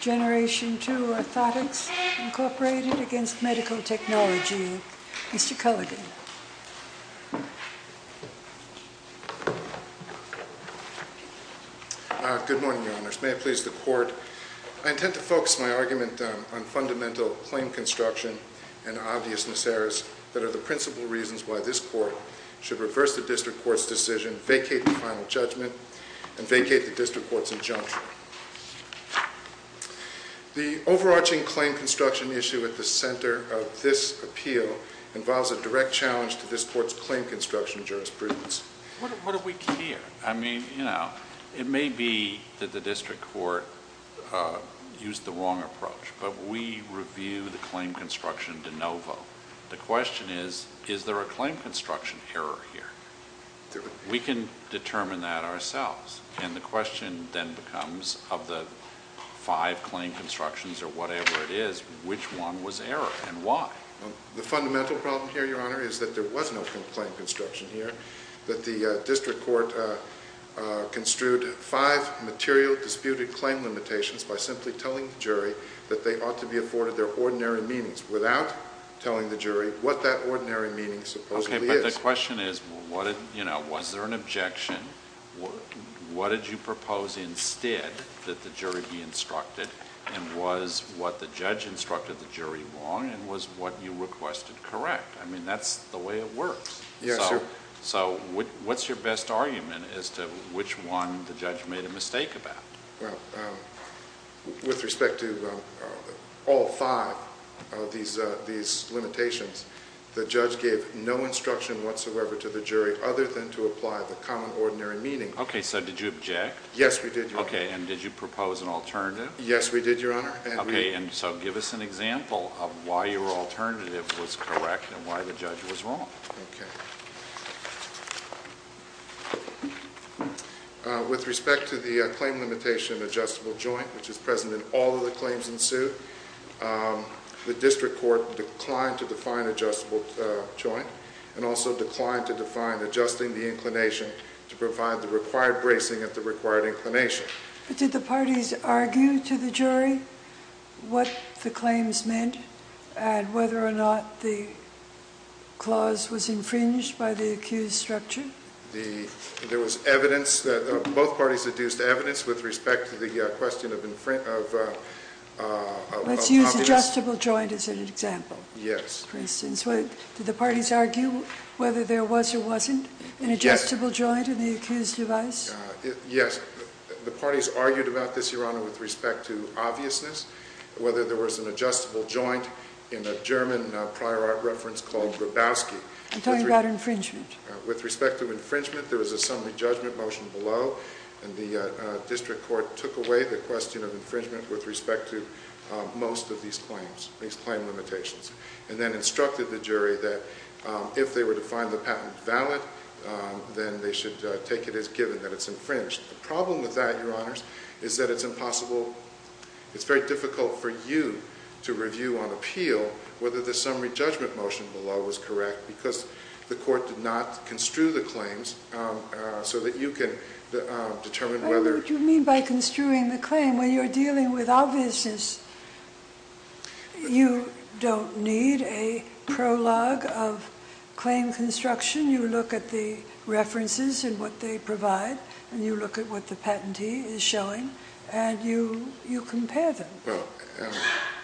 Generation II Orthotics Incorporated against Medical Technology. Mr. Culligan. Good morning, Your Honors. May it please the Court, I intend to focus my argument on fundamental claim construction and obvious miseries that are the principal reasons why this Court should reverse the District Court's decision, vacate the final judgment, and vacate the District Court's injunction. The overarching claim construction issue at the center of this appeal involves a direct challenge to this Court's claim construction jurisprudence. What do we care? I mean, you know, it may be that the District Court used the wrong approach, but we review the claim construction de novo. The question is, is there a claim construction error here? We can determine that ourselves. And the question then becomes, of the five claim constructions or whatever it is, which one was error and why? The fundamental problem here, Your Honor, is that there was no claim construction here, that the District Court construed five material disputed claim limitations by simply telling the jury that they ought to be afforded their ordinary meanings without telling the jury what that ordinary meaning supposedly is. The question is, was there an objection? What did you propose instead that the jury be instructed, and was what the judge instructed the jury wrong, and was what you requested correct? I mean, that's the way it works. Yes, sir. So what's your best argument as to which one the judge made a mistake about? Well, with respect to all five of these limitations, the judge gave no instruction whatsoever to the jury other than to apply the common ordinary meaning. Okay, so did you object? Yes, we did, Your Honor. Okay, and did you propose an alternative? Yes, we did, Your Honor. Okay, and so give us an example of why your alternative was correct and why the judge was wrong. Okay. With respect to the claim limitation adjustable joint, which is present in all of the claims in suit, the District Court declined to define adjustable joint, and also declined to define adjusting the inclination to provide the required bracing at the required inclination. But did the parties argue to the jury what the claims meant and whether or not the clause was infringed by the accused structure? There was evidence. Both parties deduced evidence with respect to the question of competence. Let's use adjustable joint as an example. Yes. For instance, did the parties argue whether there was or wasn't an adjustable joint in the accused device? Yes. The parties argued about this, Your Honor, with respect to obviousness, whether there was an adjustable joint in a German prior art reference called Grabowski. I'm talking about infringement. With respect to infringement, there was a summary judgment motion below, and the District Court took away the question of infringement with respect to most of these claims, these claim limitations, and then instructed the jury that if they were to find the patent valid, then they should take it as given that it's infringed. The problem with that, Your Honors, is that it's impossible—it's very difficult for you to review on appeal whether the summary judgment motion below was correct because the court did not construe the claims so that you can determine whether— What do you mean by construing the claim? When you're dealing with obviousness, you don't need a prologue of claim construction. You look at the references and what they provide, and you look at what the patentee is showing, and you compare them.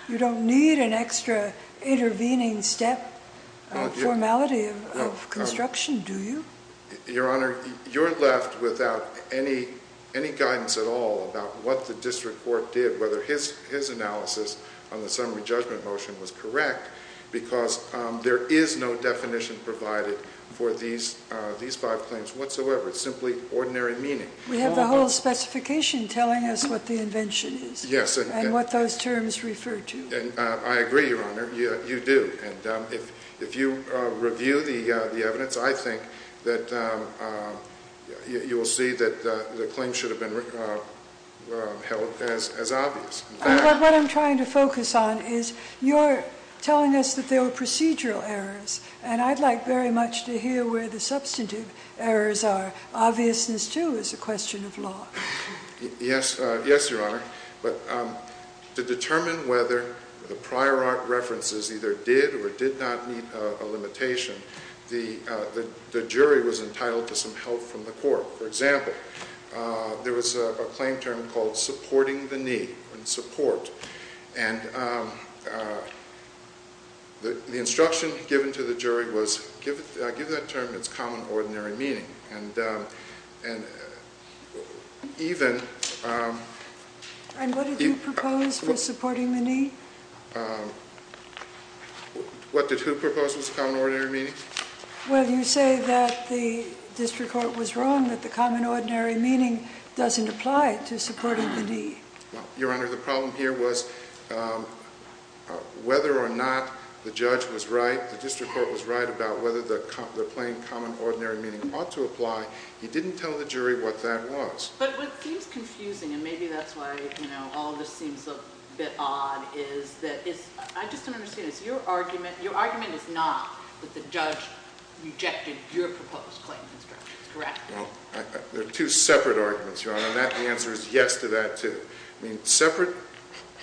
You don't need an extra intervening step of formality of construction, do you? Your Honor, you're left without any guidance at all about what the District Court did, whether his analysis on the summary judgment motion was correct, because there is no definition provided for these five claims whatsoever. It's simply ordinary meaning. We have the whole specification telling us what the invention is and what those terms refer to. I agree, Your Honor. You do. If you review the evidence, I think that you will see that the claim should have been held as obvious. What I'm trying to focus on is you're telling us that there were procedural errors, and I'd like very much to hear where the substantive errors are. Obviousness, too, is a question of law. Yes, Your Honor. To determine whether the prior art references either did or did not meet a limitation, the jury was entitled to some help from the court. For example, there was a claim term called supporting the need, and support. The instruction given to the jury was, give that term its common, ordinary meaning. And even... And what did you propose for supporting the need? What did who propose was common, ordinary meaning? Well, you say that the District Court was wrong, that the common, ordinary meaning doesn't apply to supporting the need. Well, Your Honor, the problem here was whether or not the judge was right, the District Court was right about whether the plain, common, ordinary meaning ought to apply. You didn't tell the jury what that was. But what seems confusing, and maybe that's why all of this seems a bit odd, is that... I just don't understand. Is your argument... Your argument is not that the judge rejected your proposed claim instructions, correct? Well, they're two separate arguments, Your Honor, and the answer is yes to that, too. I mean, separate,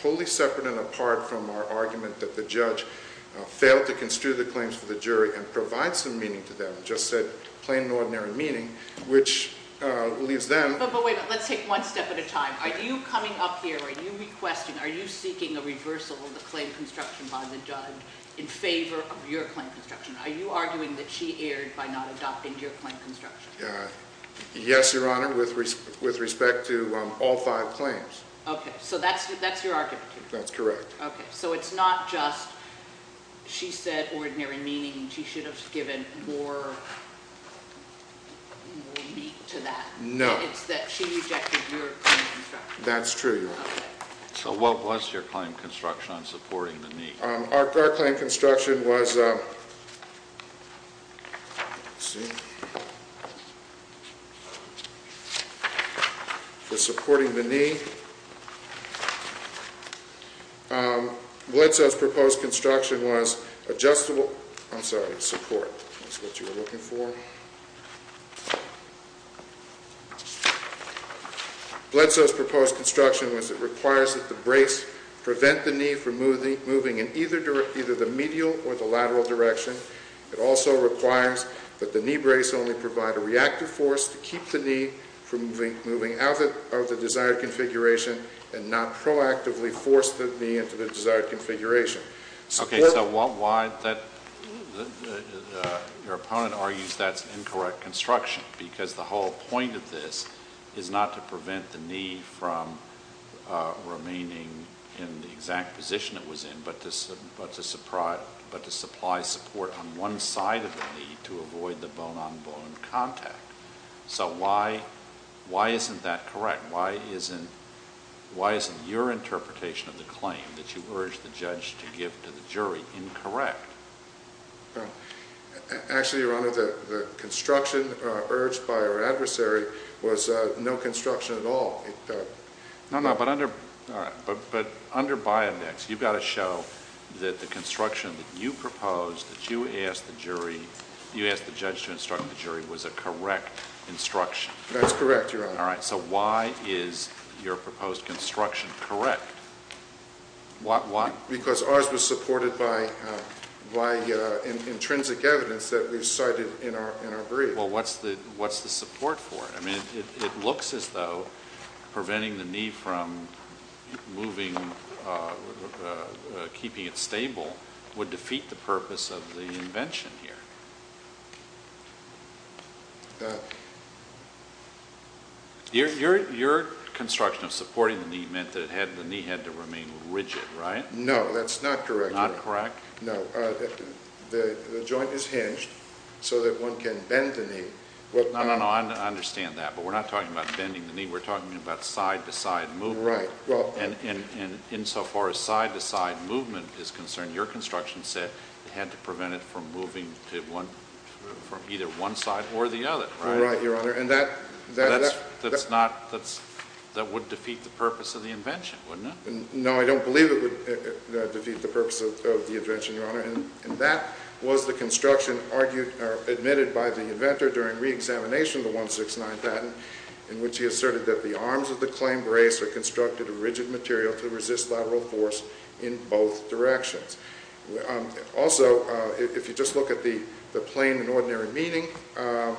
wholly separate and apart from our argument that the judge failed to construe the claims for the jury and provide some meaning to them, just said plain, ordinary meaning, which leaves them... But wait, let's take one step at a time. Are you coming up here, are you requesting, are you seeking a reversal of the claim construction by the judge in favor of your claim construction? Are you arguing that she erred by not adopting your claim construction? Yes, Your Honor, with respect to all five claims. Okay, so that's your argument. That's correct. Okay, so it's not just she said ordinary meaning, she should have given more meat to that. No. It's that she rejected your claim construction. That's true, Your Honor. So what was your claim construction on supporting the need? Our claim construction was, let's see, for supporting the knee. Bledsoe's proposed construction was adjustable, I'm sorry, support, that's what you were looking for. Bledsoe's proposed construction was it requires that the brace prevent the knee from moving in either the medial or the lateral direction. It also requires that the knee brace only provide a reactive force to keep the knee from moving out of the desired configuration and not proactively force the knee into the desired configuration. Okay, so your opponent argues that's an incorrect construction because the whole point of this is not to prevent the knee from remaining in the exact position it was in, but to supply support on one side of the knee to avoid the bone-on-bone contact. So why isn't that correct? Why isn't your interpretation of the claim that you urged the judge to give to the jury incorrect? Actually, Your Honor, the construction urged by our adversary was no construction at all. No, no, but under by-index, you've got to show that the construction that you proposed that you asked the judge to instruct the jury was a correct instruction. That's correct, Your Honor. All right, so why is your proposed construction correct? Why? Because ours was supported by intrinsic evidence that we've cited in our brief. Well, what's the support for it? I mean, it looks as though preventing the knee from moving, keeping it stable, would defeat the purpose of the invention here. Your construction of supporting the knee meant that the knee had to remain rigid, right? No, that's not correct. Not correct? No. The joint is hinged so that one can bend the knee. No, no, I understand that, but we're not talking about bending the knee. We're talking about side-to-side movement. Right. And insofar as side-to-side movement is concerned, your construction said it had to prevent it from moving from either one side or the other, right? Right, Your Honor. That would defeat the purpose of the invention, wouldn't it? No, I don't believe it would defeat the purpose of the invention, Your Honor. And that was the construction admitted by the inventor during reexamination of the 169 patent, in which he asserted that the arms of the claimed brace were constructed of rigid material to resist lateral force in both directions. Also, if you just look at the plain and ordinary meaning of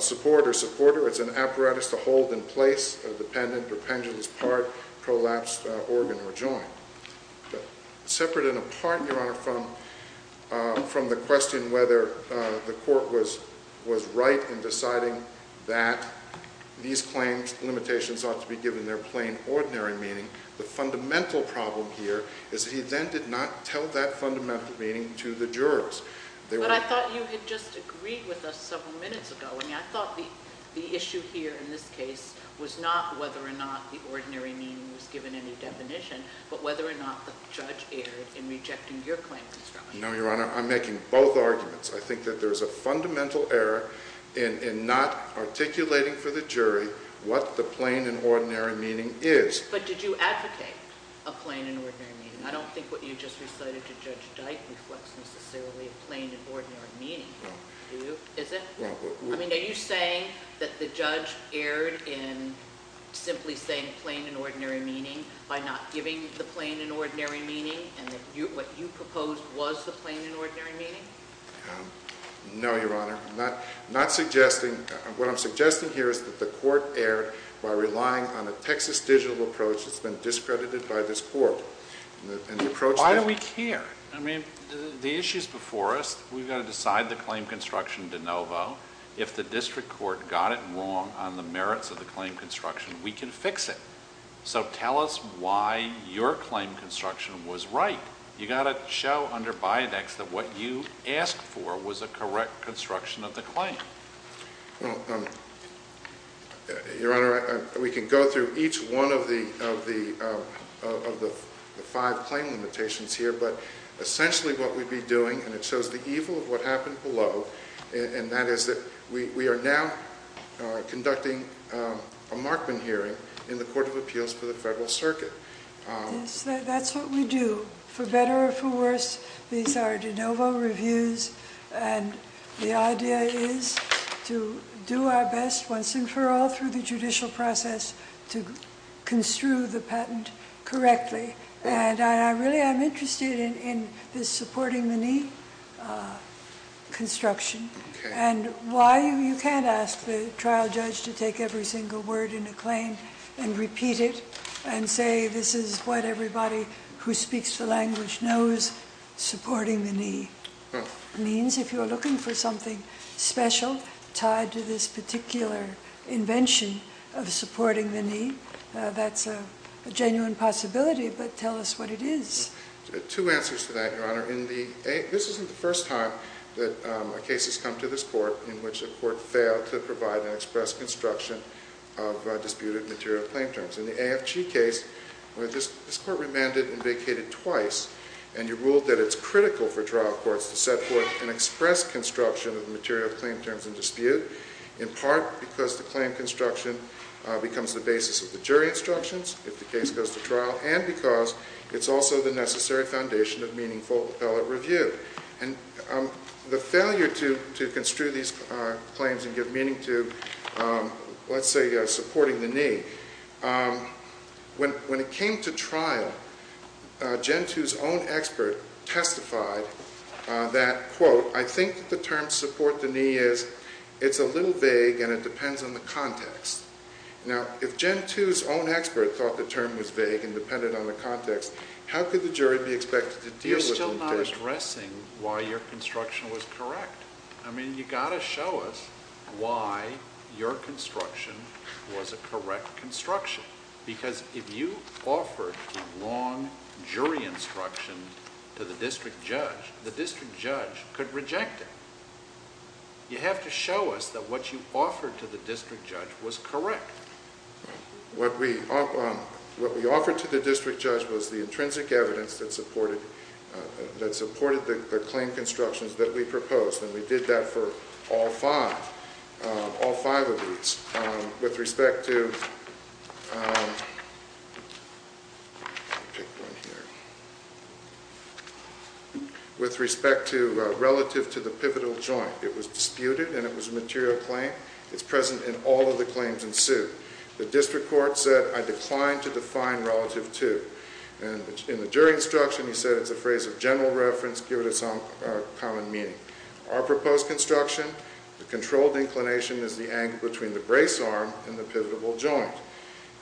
support or supporter, it's an apparatus to hold in place a dependent or pendulous part, collapsed organ, or joint. Separate and apart, Your Honor, from the question whether the court was right in deciding that these claims, limitations ought to be given their plain, ordinary meaning, the fundamental problem here is that he then did not tell that fundamental meaning to the jurors. But I thought you had just agreed with us several minutes ago. I mean, I thought the issue here in this case was not whether or not the ordinary meaning was given any definition, but whether or not the judge erred in rejecting your claim construction. No, Your Honor, I'm making both arguments. I think that there's a fundamental error in not articulating for the jury what the plain and ordinary meaning is. But did you advocate a plain and ordinary meaning? I don't think what you just recited to Judge Dyke reflects necessarily a plain and ordinary meaning. No. I mean, are you saying that the judge erred in simply saying plain and ordinary meaning by not giving the plain and ordinary meaning, and that what you proposed was the plain and ordinary meaning? No, Your Honor. What I'm suggesting here is that the court erred by relying on a Texas digital approach that's been discredited by this court. Why do we care? I mean, the issue's before us. We've got to decide the claim construction de novo. If the district court got it wrong on the merits of the claim construction, we can fix it. So tell us why your claim construction was right. You've got to show under Bidex that what you asked for was a correct construction of the claim. Well, Your Honor, we can go through each one of the five claim limitations here, but essentially what we'd be doing, and it shows the evil of what happened below, and that is that we are now conducting a Markman hearing in the Court of Appeals for the Federal Circuit. That's what we do, for better or for worse. These are de novo reviews, and the idea is to do our best once and for all through the judicial process to construe the patent correctly. And I really am interested in this supporting the knee construction and why you can't ask the trial judge to take every single word in a claim and repeat it and say this is what everybody who speaks the language knows, supporting the knee. It means if you're looking for something special tied to this particular invention of supporting the knee, that's a genuine possibility, but tell us what it is. Two answers to that, Your Honor. This isn't the first time that a case has come to this court in which a court failed to provide an express construction of disputed material claim terms. In the AFG case, this court remanded and vacated twice, and you ruled that it's critical for trial courts to set forth an express construction of the material claim terms in dispute, in part because the claim construction becomes the basis of the jury instructions if the case goes to trial, and because it's also the necessary foundation of meaningful appellate review. The failure to construe these claims and give meaning to, let's say, supporting the knee, when it came to trial, Gen 2's own expert testified that, quote, I think the term support the knee is it's a little vague and it depends on the context. Now, if Gen 2's own expert thought the term was vague and dependent on the context, how could the jury be expected to deal with it? We're not addressing why your construction was correct. I mean, you've got to show us why your construction was a correct construction, because if you offered a long jury instruction to the district judge, the district judge could reject it. You have to show us that what you offered to the district judge was correct. What we offered to the district judge was the intrinsic evidence that supported the claim constructions that we proposed, and we did that for all five of these with respect to relative to the pivotal joint. It was disputed and it was a material claim. It's present in all of the claims in suit. The district court said I declined to define relative to, and in the jury instruction, he said it's a phrase of general reference, give it some common meaning. Our proposed construction, the controlled inclination is the angle between the brace arm and the pivotal joint,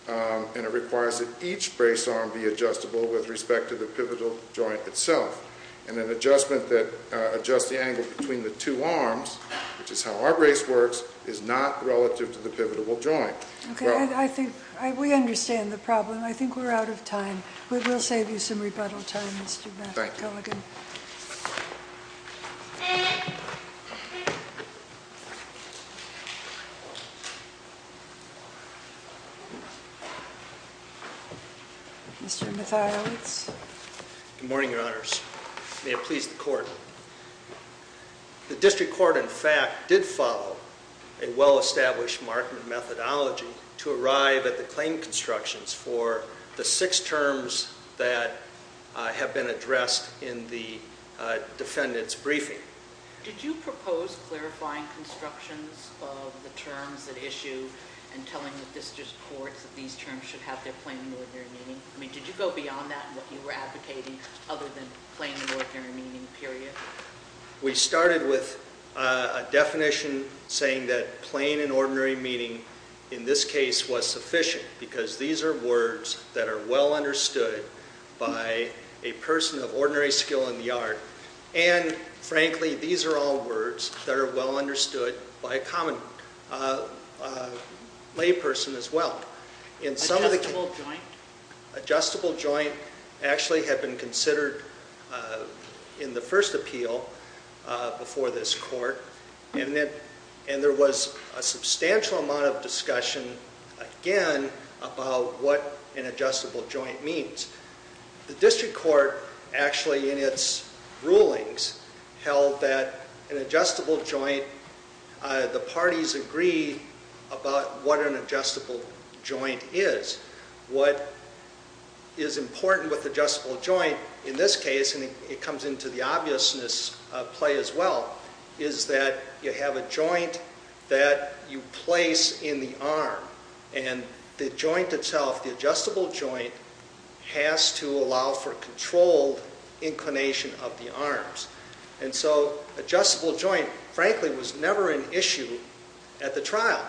and it requires that each brace arm be adjustable with respect to the pivotal joint itself, and an adjustment that adjusts the angle between the two arms, which is how our brace works, is not relative to the pivotal joint. Okay. I think we understand the problem. I think we're out of time. We will save you some rebuttal time, Mr. Matthew Killigan. Thank you. Mr. Mathiewicz. Good morning, Your Honors. May it please the court. The district court, in fact, did follow a well-established marking methodology to arrive at the claim constructions for the six terms that have been addressed in the defendant's briefing. Did you propose clarifying constructions of the terms at issue and telling the district courts that these terms should have their plenary meeting? I mean, did you go beyond that in what you were advocating other than plain and ordinary meeting, period? We started with a definition saying that plain and ordinary meeting in this case was sufficient because these are words that are well understood by a person of ordinary skill in the art, and, frankly, these are all words that are well understood by a common lay person as well. Adjustable joint? Adjustable joint actually had been considered in the first appeal before this court, and there was a substantial amount of discussion, again, about what an adjustable joint means. The district court actually, in its rulings, held that an adjustable joint, the parties agree about what an adjustable joint is. What is important with adjustable joint in this case, and it comes into the obviousness play as well, is that you have a joint that you place in the arm, and the joint itself, the adjustable joint, has to allow for controlled inclination of the arms. And so adjustable joint, frankly, was never an issue at the trial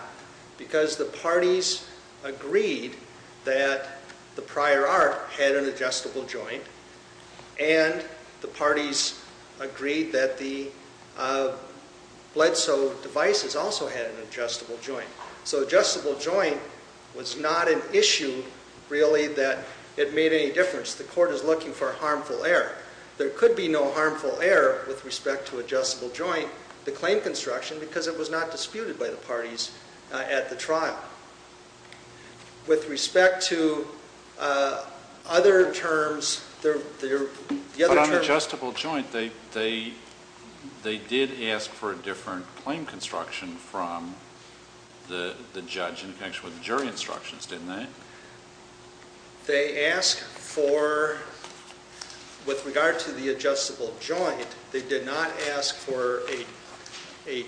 because the parties agreed that the prior art had an adjustable joint, and the parties agreed that the bled-so devices also had an adjustable joint. So adjustable joint was not an issue, really, that it made any difference. The court is looking for harmful error. There could be no harmful error with respect to adjustable joint, the claim construction, because it was not disputed by the parties at the trial. With respect to other terms, the other terms... But on adjustable joint, they did ask for a different claim construction from the judge in connection with the jury instructions, didn't they? They asked for, with regard to the adjustable joint, they did not ask for a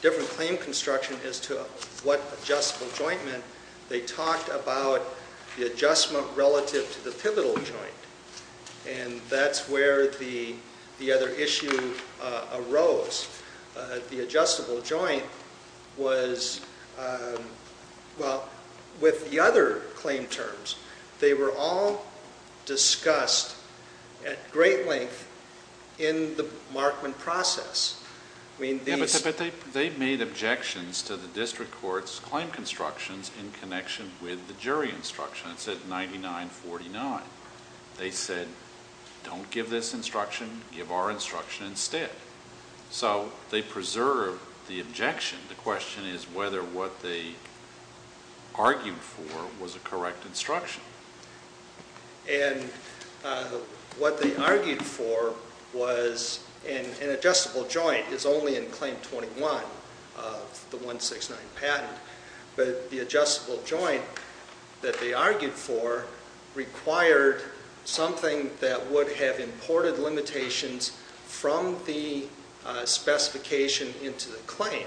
different claim construction as to what adjustable joint meant. They talked about the adjustment relative to the pivotal joint, and that's where the other issue arose. The adjustable joint was... Well, with the other claim terms, they were all discussed at great length in the Markman process. But they made objections to the district court's claim constructions in connection with the jury instructions at 99-49. They said, don't give this instruction, give our instruction instead. So they preserved the objection. The question is whether what they argued for was a correct instruction. And what they argued for was an adjustable joint is only in Claim 21 of the 169 patent, but the adjustable joint that they argued for required something that would have imported limitations from the specification into the claim,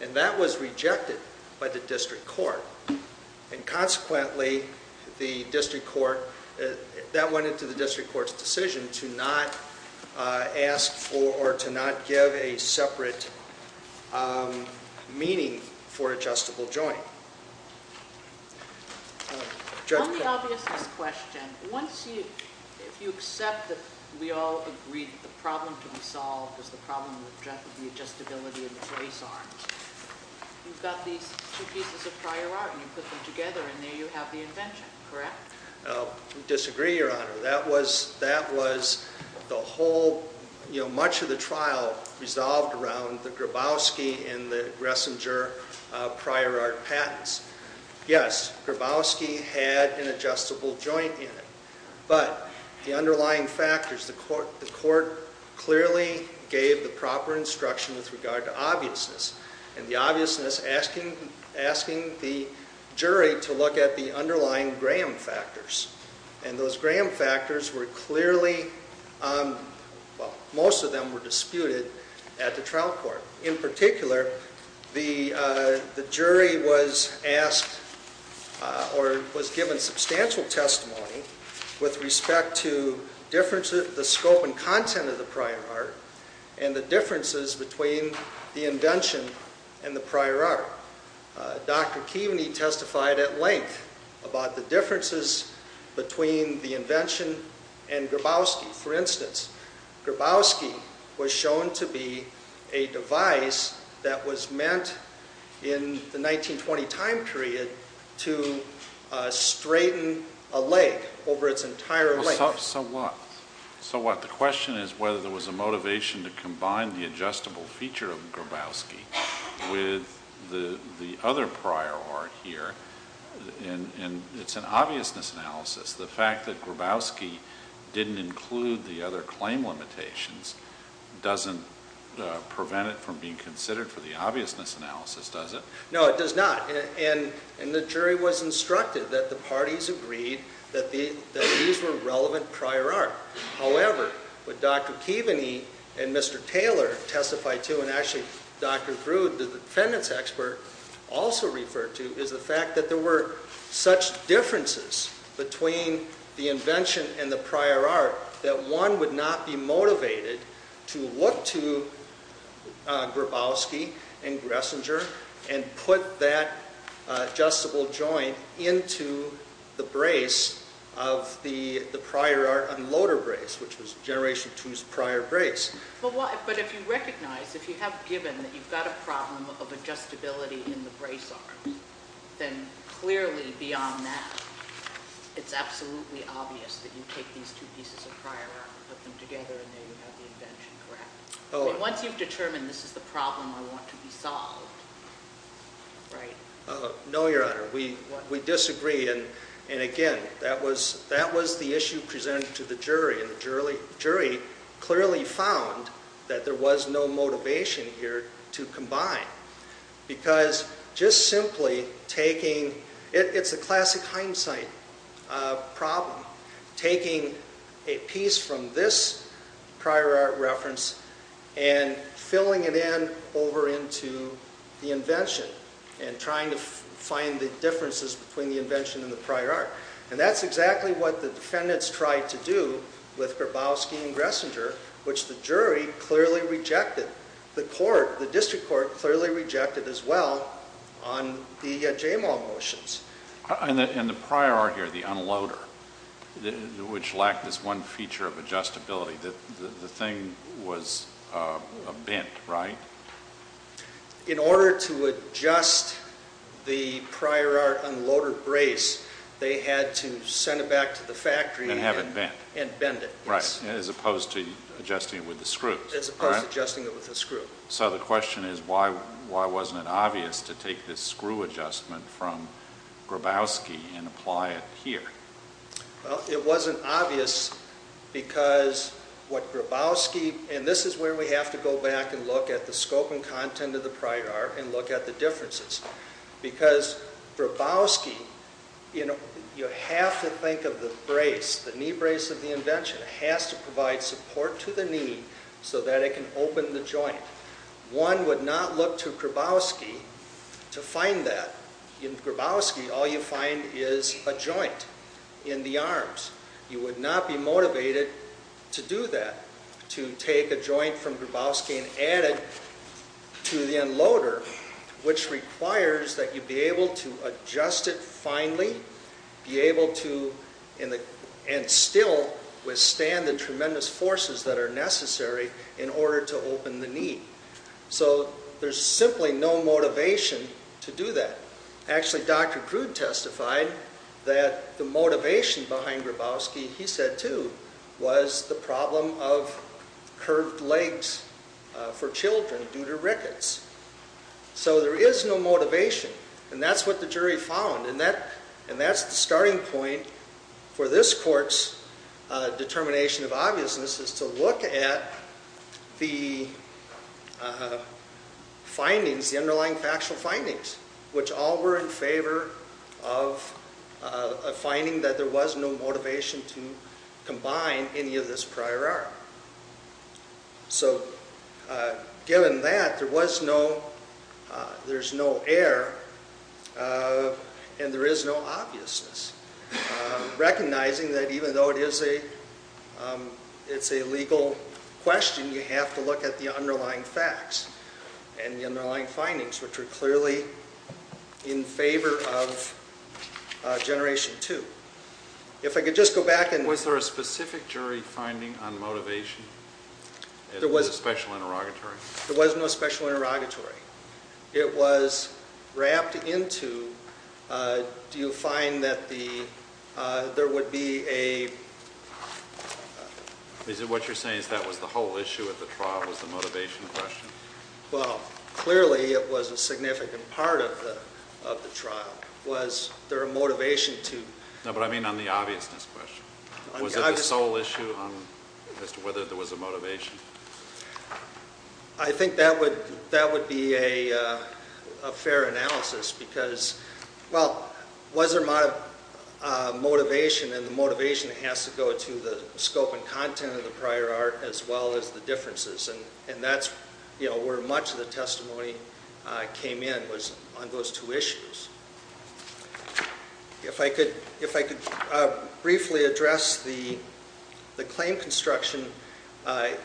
and that was rejected by the district court. And consequently, the district court... That went into the district court's decision to not ask for or to not give a separate meaning for adjustable joint. On the obviousness question, if you accept that we all agree that the problem to be solved is the problem with the adjustability of the trace arms, you've got these two pieces of prior art, and you put them together, and there you have the invention, correct? I disagree, Your Honor. That was the whole... Much of the trial resolved around the Grabowski and the Gressinger prior art patents. Yes, Grabowski had an adjustable joint in it, but the underlying factors, the court clearly gave the proper instruction with regard to obviousness, and the obviousness asking the jury to look at the underlying Graham factors. And those Graham factors were clearly... Well, most of them were disputed at the trial court. In particular, the jury was asked or was given substantial testimony with respect to the scope and content of the prior art and the differences between the indention and the prior art. Dr. Keaveney testified at length about the differences between the indention and Grabowski. For instance, Grabowski was shown to be a device that was meant in the 1920 time period to straighten a leg over its entire length. So what? So what? The question is whether there was a motivation to combine the adjustable feature of Grabowski with the other prior art here, and it's an obviousness analysis. The fact that Grabowski didn't include the other claim limitations doesn't prevent it from being considered for the obviousness analysis, does it? No, it does not. And the jury was instructed that the parties agreed that these were relevant prior art. However, what Dr. Keaveney and Mr. Taylor testified to, and actually Dr. Grude, the defendant's expert, also referred to, is the fact that there were such differences between the indention and the prior art that one would not be motivated to look to Grabowski and Gressinger and put that adjustable joint into the brace of the prior art unloader brace, which was Generation II's prior brace. But if you recognize, if you have given that you've got a problem of adjustability in the brace arm, then clearly beyond that it's absolutely obvious that you take these two pieces of prior art, put them together, and there you have the indention, correct? Once you've determined this is the problem I want to be solved, right? No, Your Honor. We disagree. And again, that was the issue presented to the jury, and the jury clearly found that there was no motivation here to combine because just simply taking, it's a classic hindsight problem, taking a piece from this prior art reference and filling it in over into the indention and trying to find the differences between the indention and the prior art. And that's exactly what the defendants tried to do with Grabowski and Gressinger, which the jury clearly rejected. The court, the district court clearly rejected as well on the JAMAL motions. And the prior art here, the unloader, which lacked this one feature of adjustability, the thing was bent, right? In order to adjust the prior art unloader brace, they had to send it back to the factory and bend it. Right, as opposed to adjusting it with the screws. As opposed to adjusting it with the screw. So the question is why wasn't it obvious to take this screw adjustment from Grabowski and apply it here? Well, it wasn't obvious because what Grabowski, and this is where we have to go back and look at the scope and content of the prior art and look at the differences. Because Grabowski, you have to think of the brace, the knee brace of the indention. It has to provide support to the knee so that it can open the joint. One would not look to Grabowski to find that. In Grabowski, all you find is a joint in the arms. You would not be motivated to do that, to take a joint from Grabowski and add it to the unloader, which requires that you be able to adjust it finely, be able to, and still withstand the tremendous forces that are necessary in order to open the knee. So there's simply no motivation to do that. Actually, Dr. Crude testified that the motivation behind Grabowski, he said too, was the problem of curved legs for children due to rickets. So there is no motivation, and that's what the jury found. And that's the starting point for this court's determination of obviousness, is to look at the findings, the underlying factual findings, which all were in favor of a finding that there was no motivation to combine any of this prior art. So given that, there was no, there's no error, and there is no obviousness. Recognizing that even though it is a legal question, you have to look at the underlying facts and the underlying findings, which are clearly in favor of Generation 2. If I could just go back and... Was the basic jury finding on motivation? There was no special interrogatory. There was no special interrogatory. It was wrapped into, do you find that there would be a... Is it what you're saying is that was the whole issue of the trial was the motivation question? Well, clearly it was a significant part of the trial. Was there a motivation to... No, but I mean on the obviousness question. Was it the sole issue as to whether there was a motivation? I think that would be a fair analysis because, well, was there motivation, and the motivation has to go to the scope and content of the prior art as well as the differences, and that's where much of the testimony came in was on those two issues. If I could briefly address the claim construction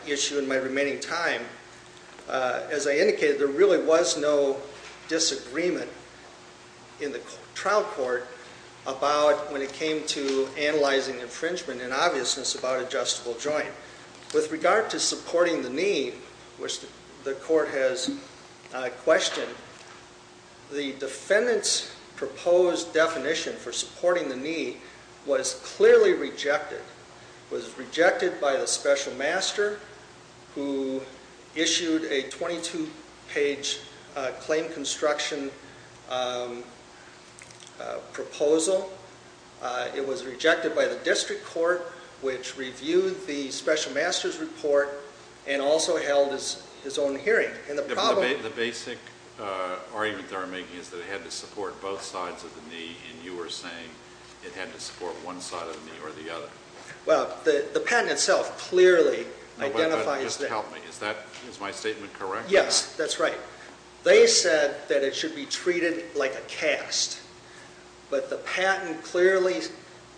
issue in my remaining time, as I indicated, there really was no disagreement in the trial court about when it came to analyzing infringement and obviousness about adjustable joint. With regard to supporting the need, which the court has questioned, the defendant's proposed definition for supporting the need was clearly rejected. It was rejected by the special master, who issued a 22-page claim construction proposal. It was rejected by the district court, which reviewed the special master's report and also held his own hearing. The basic argument they're making is that it had to support both sides of the knee, and you were saying it had to support one side of the knee or the other. Well, the patent itself clearly identifies... Just help me. Is my statement correct? Yes, that's right. They said that it should be treated like a cast, but the patent clearly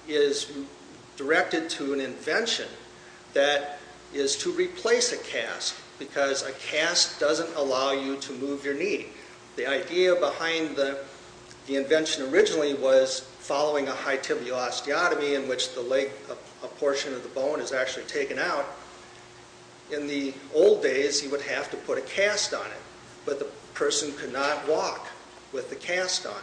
is directed to an invention that is to replace a cast because a cast doesn't allow you to move your knee. The idea behind the invention originally was following a high tibial osteotomy in which the leg, a portion of the bone, is actually taken out. In the old days, you would have to put a cast on it, but the person could not walk with the cast on.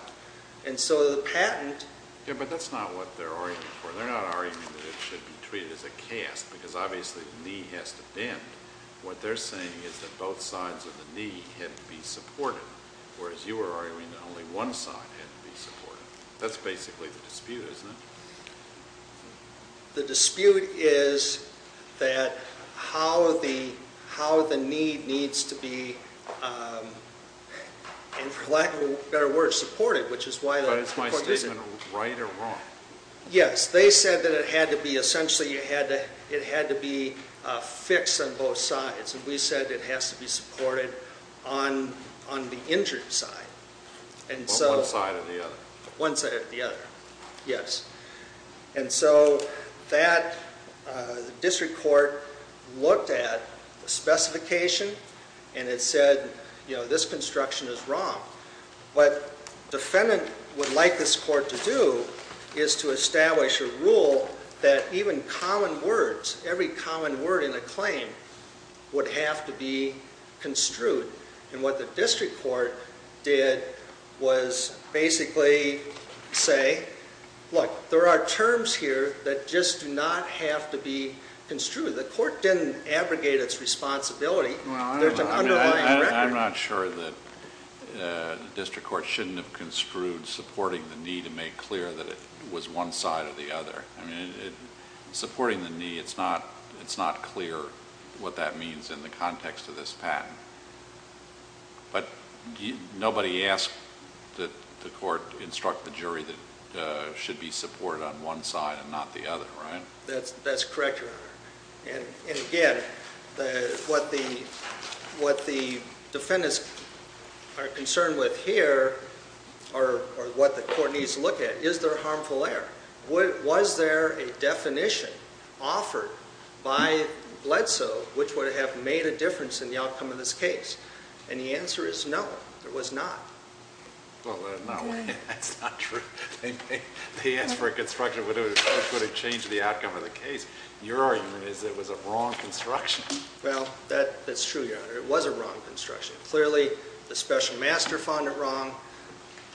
And so the patent... Yeah, but that's not what they're arguing for. They're not arguing that it should be treated as a cast because obviously the knee has to bend. What they're saying is that both sides of the knee had to be supported, whereas you were arguing that only one side had to be supported. That's basically the dispute, isn't it? The dispute is that how the knee needs to be, and for lack of a better word, supported, which is why... But is my statement right or wrong? Yes. They said that essentially it had to be fixed on both sides, and we said it has to be supported on the injured side. On one side or the other. One side or the other, yes. And so that district court looked at the specification and it said, you know, this construction is wrong. What defendant would like this court to do is to establish a rule that even common words, every common word in a claim, would have to be construed. And what the district court did was basically say, look, there are terms here that just do not have to be construed. The court didn't abrogate its responsibility. I'm not sure that the district court shouldn't have construed supporting the knee to make clear that it was one side or the other. I mean, supporting the knee, it's not clear what that means in the context of this patent. But nobody asked the court to instruct the jury that it should be supported on one side and not the other, right? That's correct, Your Honor. And again, what the defendants are concerned with here or what the court needs to look at, is there harmful error? Was there a definition offered by Bledsoe which would have made a difference in the outcome of this case? And the answer is no, there was not. That's not true. They asked for a construction which would have changed the outcome of the case. Your argument is it was a wrong construction. Well, that's true, Your Honor. It was a wrong construction. Clearly, the special master found it wrong,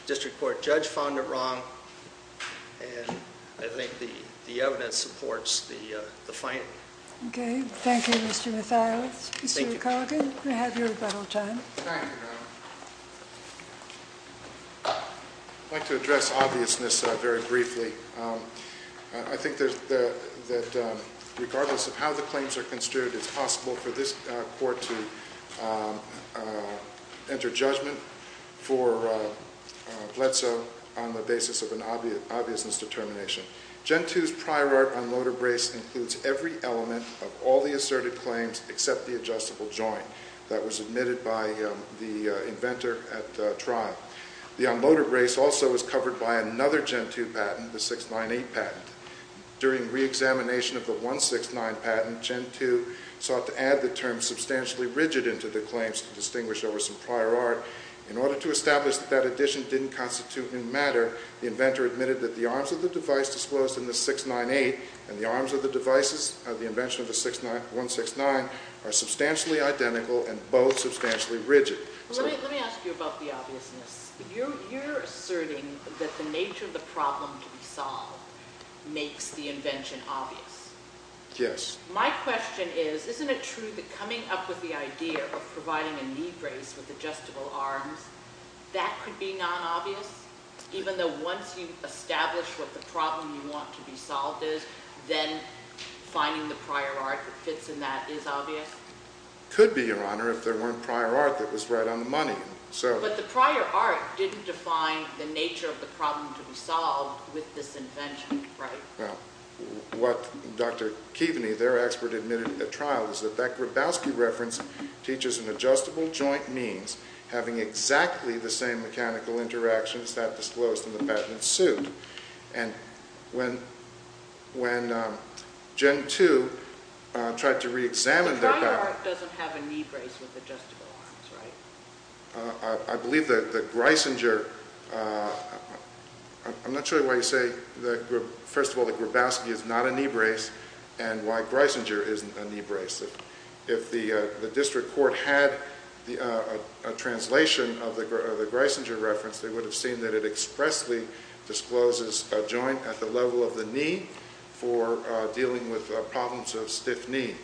the district court judge found it wrong, and I think the evidence supports the finding. Okay, thank you, Mr. Mathias. Mr. McColligan, you have your rebuttal time. Thank you, Your Honor. I'd like to address obviousness very briefly. I think that regardless of how the claims are construed, it's possible for this court to enter judgment for Bledsoe on the basis of an obviousness determination. Gen 2's prior art unloaded brace includes every element of all the asserted claims except the adjustable joint that was admitted by the inventor at trial. The unloaded brace also was covered by another Gen 2 patent, the 698 patent. During reexamination of the 169 patent, Gen 2 sought to add the term substantially rigid into the claims to distinguish over some prior art. In order to establish that that addition didn't constitute new matter, the inventor admitted that the arms of the device disclosed in the 698 and the arms of the devices of the invention of the 169 are substantially identical and both substantially rigid. Let me ask you about the obviousness. You're asserting that the nature of the problem to be solved makes the invention obvious. Yes. My question is, isn't it true that coming up with the idea of providing a knee brace with adjustable arms, that could be non-obvious? Even though once you've established what the problem you want to be solved is, then finding the prior art that fits in that is obvious? It could be, Your Honor, if there weren't prior art that was right on the money. But the prior art didn't define the nature of the problem to be solved with this invention, right? Well, what Dr. Kiveny, their expert admitted at trial, was that that Grabowski reference teaches an adjustable joint means having exactly the same mechanical interactions that disclosed in the patent suit. And when Gen 2 tried to re-examine that back... The prior art doesn't have a knee brace with adjustable arms, right? I believe that the Greisinger... I'm not sure why you say, first of all, that Grabowski is not a knee brace and why Greisinger isn't a knee brace. If the district court had a translation of the Greisinger reference, they would have seen that it expressly discloses a joint at the level of the knee for dealing with problems of stiff knee.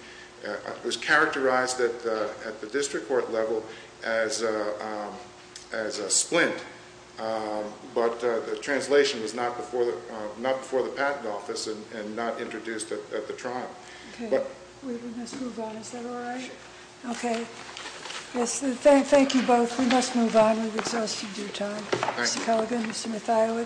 It was characterized at the district court level as a splint. But the translation was not before the patent office and not introduced at the trial. Okay. We must move on. Is that all right? Okay. Thank you both. We must move on. We've exhausted your time. Mr. Culligan, Mr. Mathiowicz.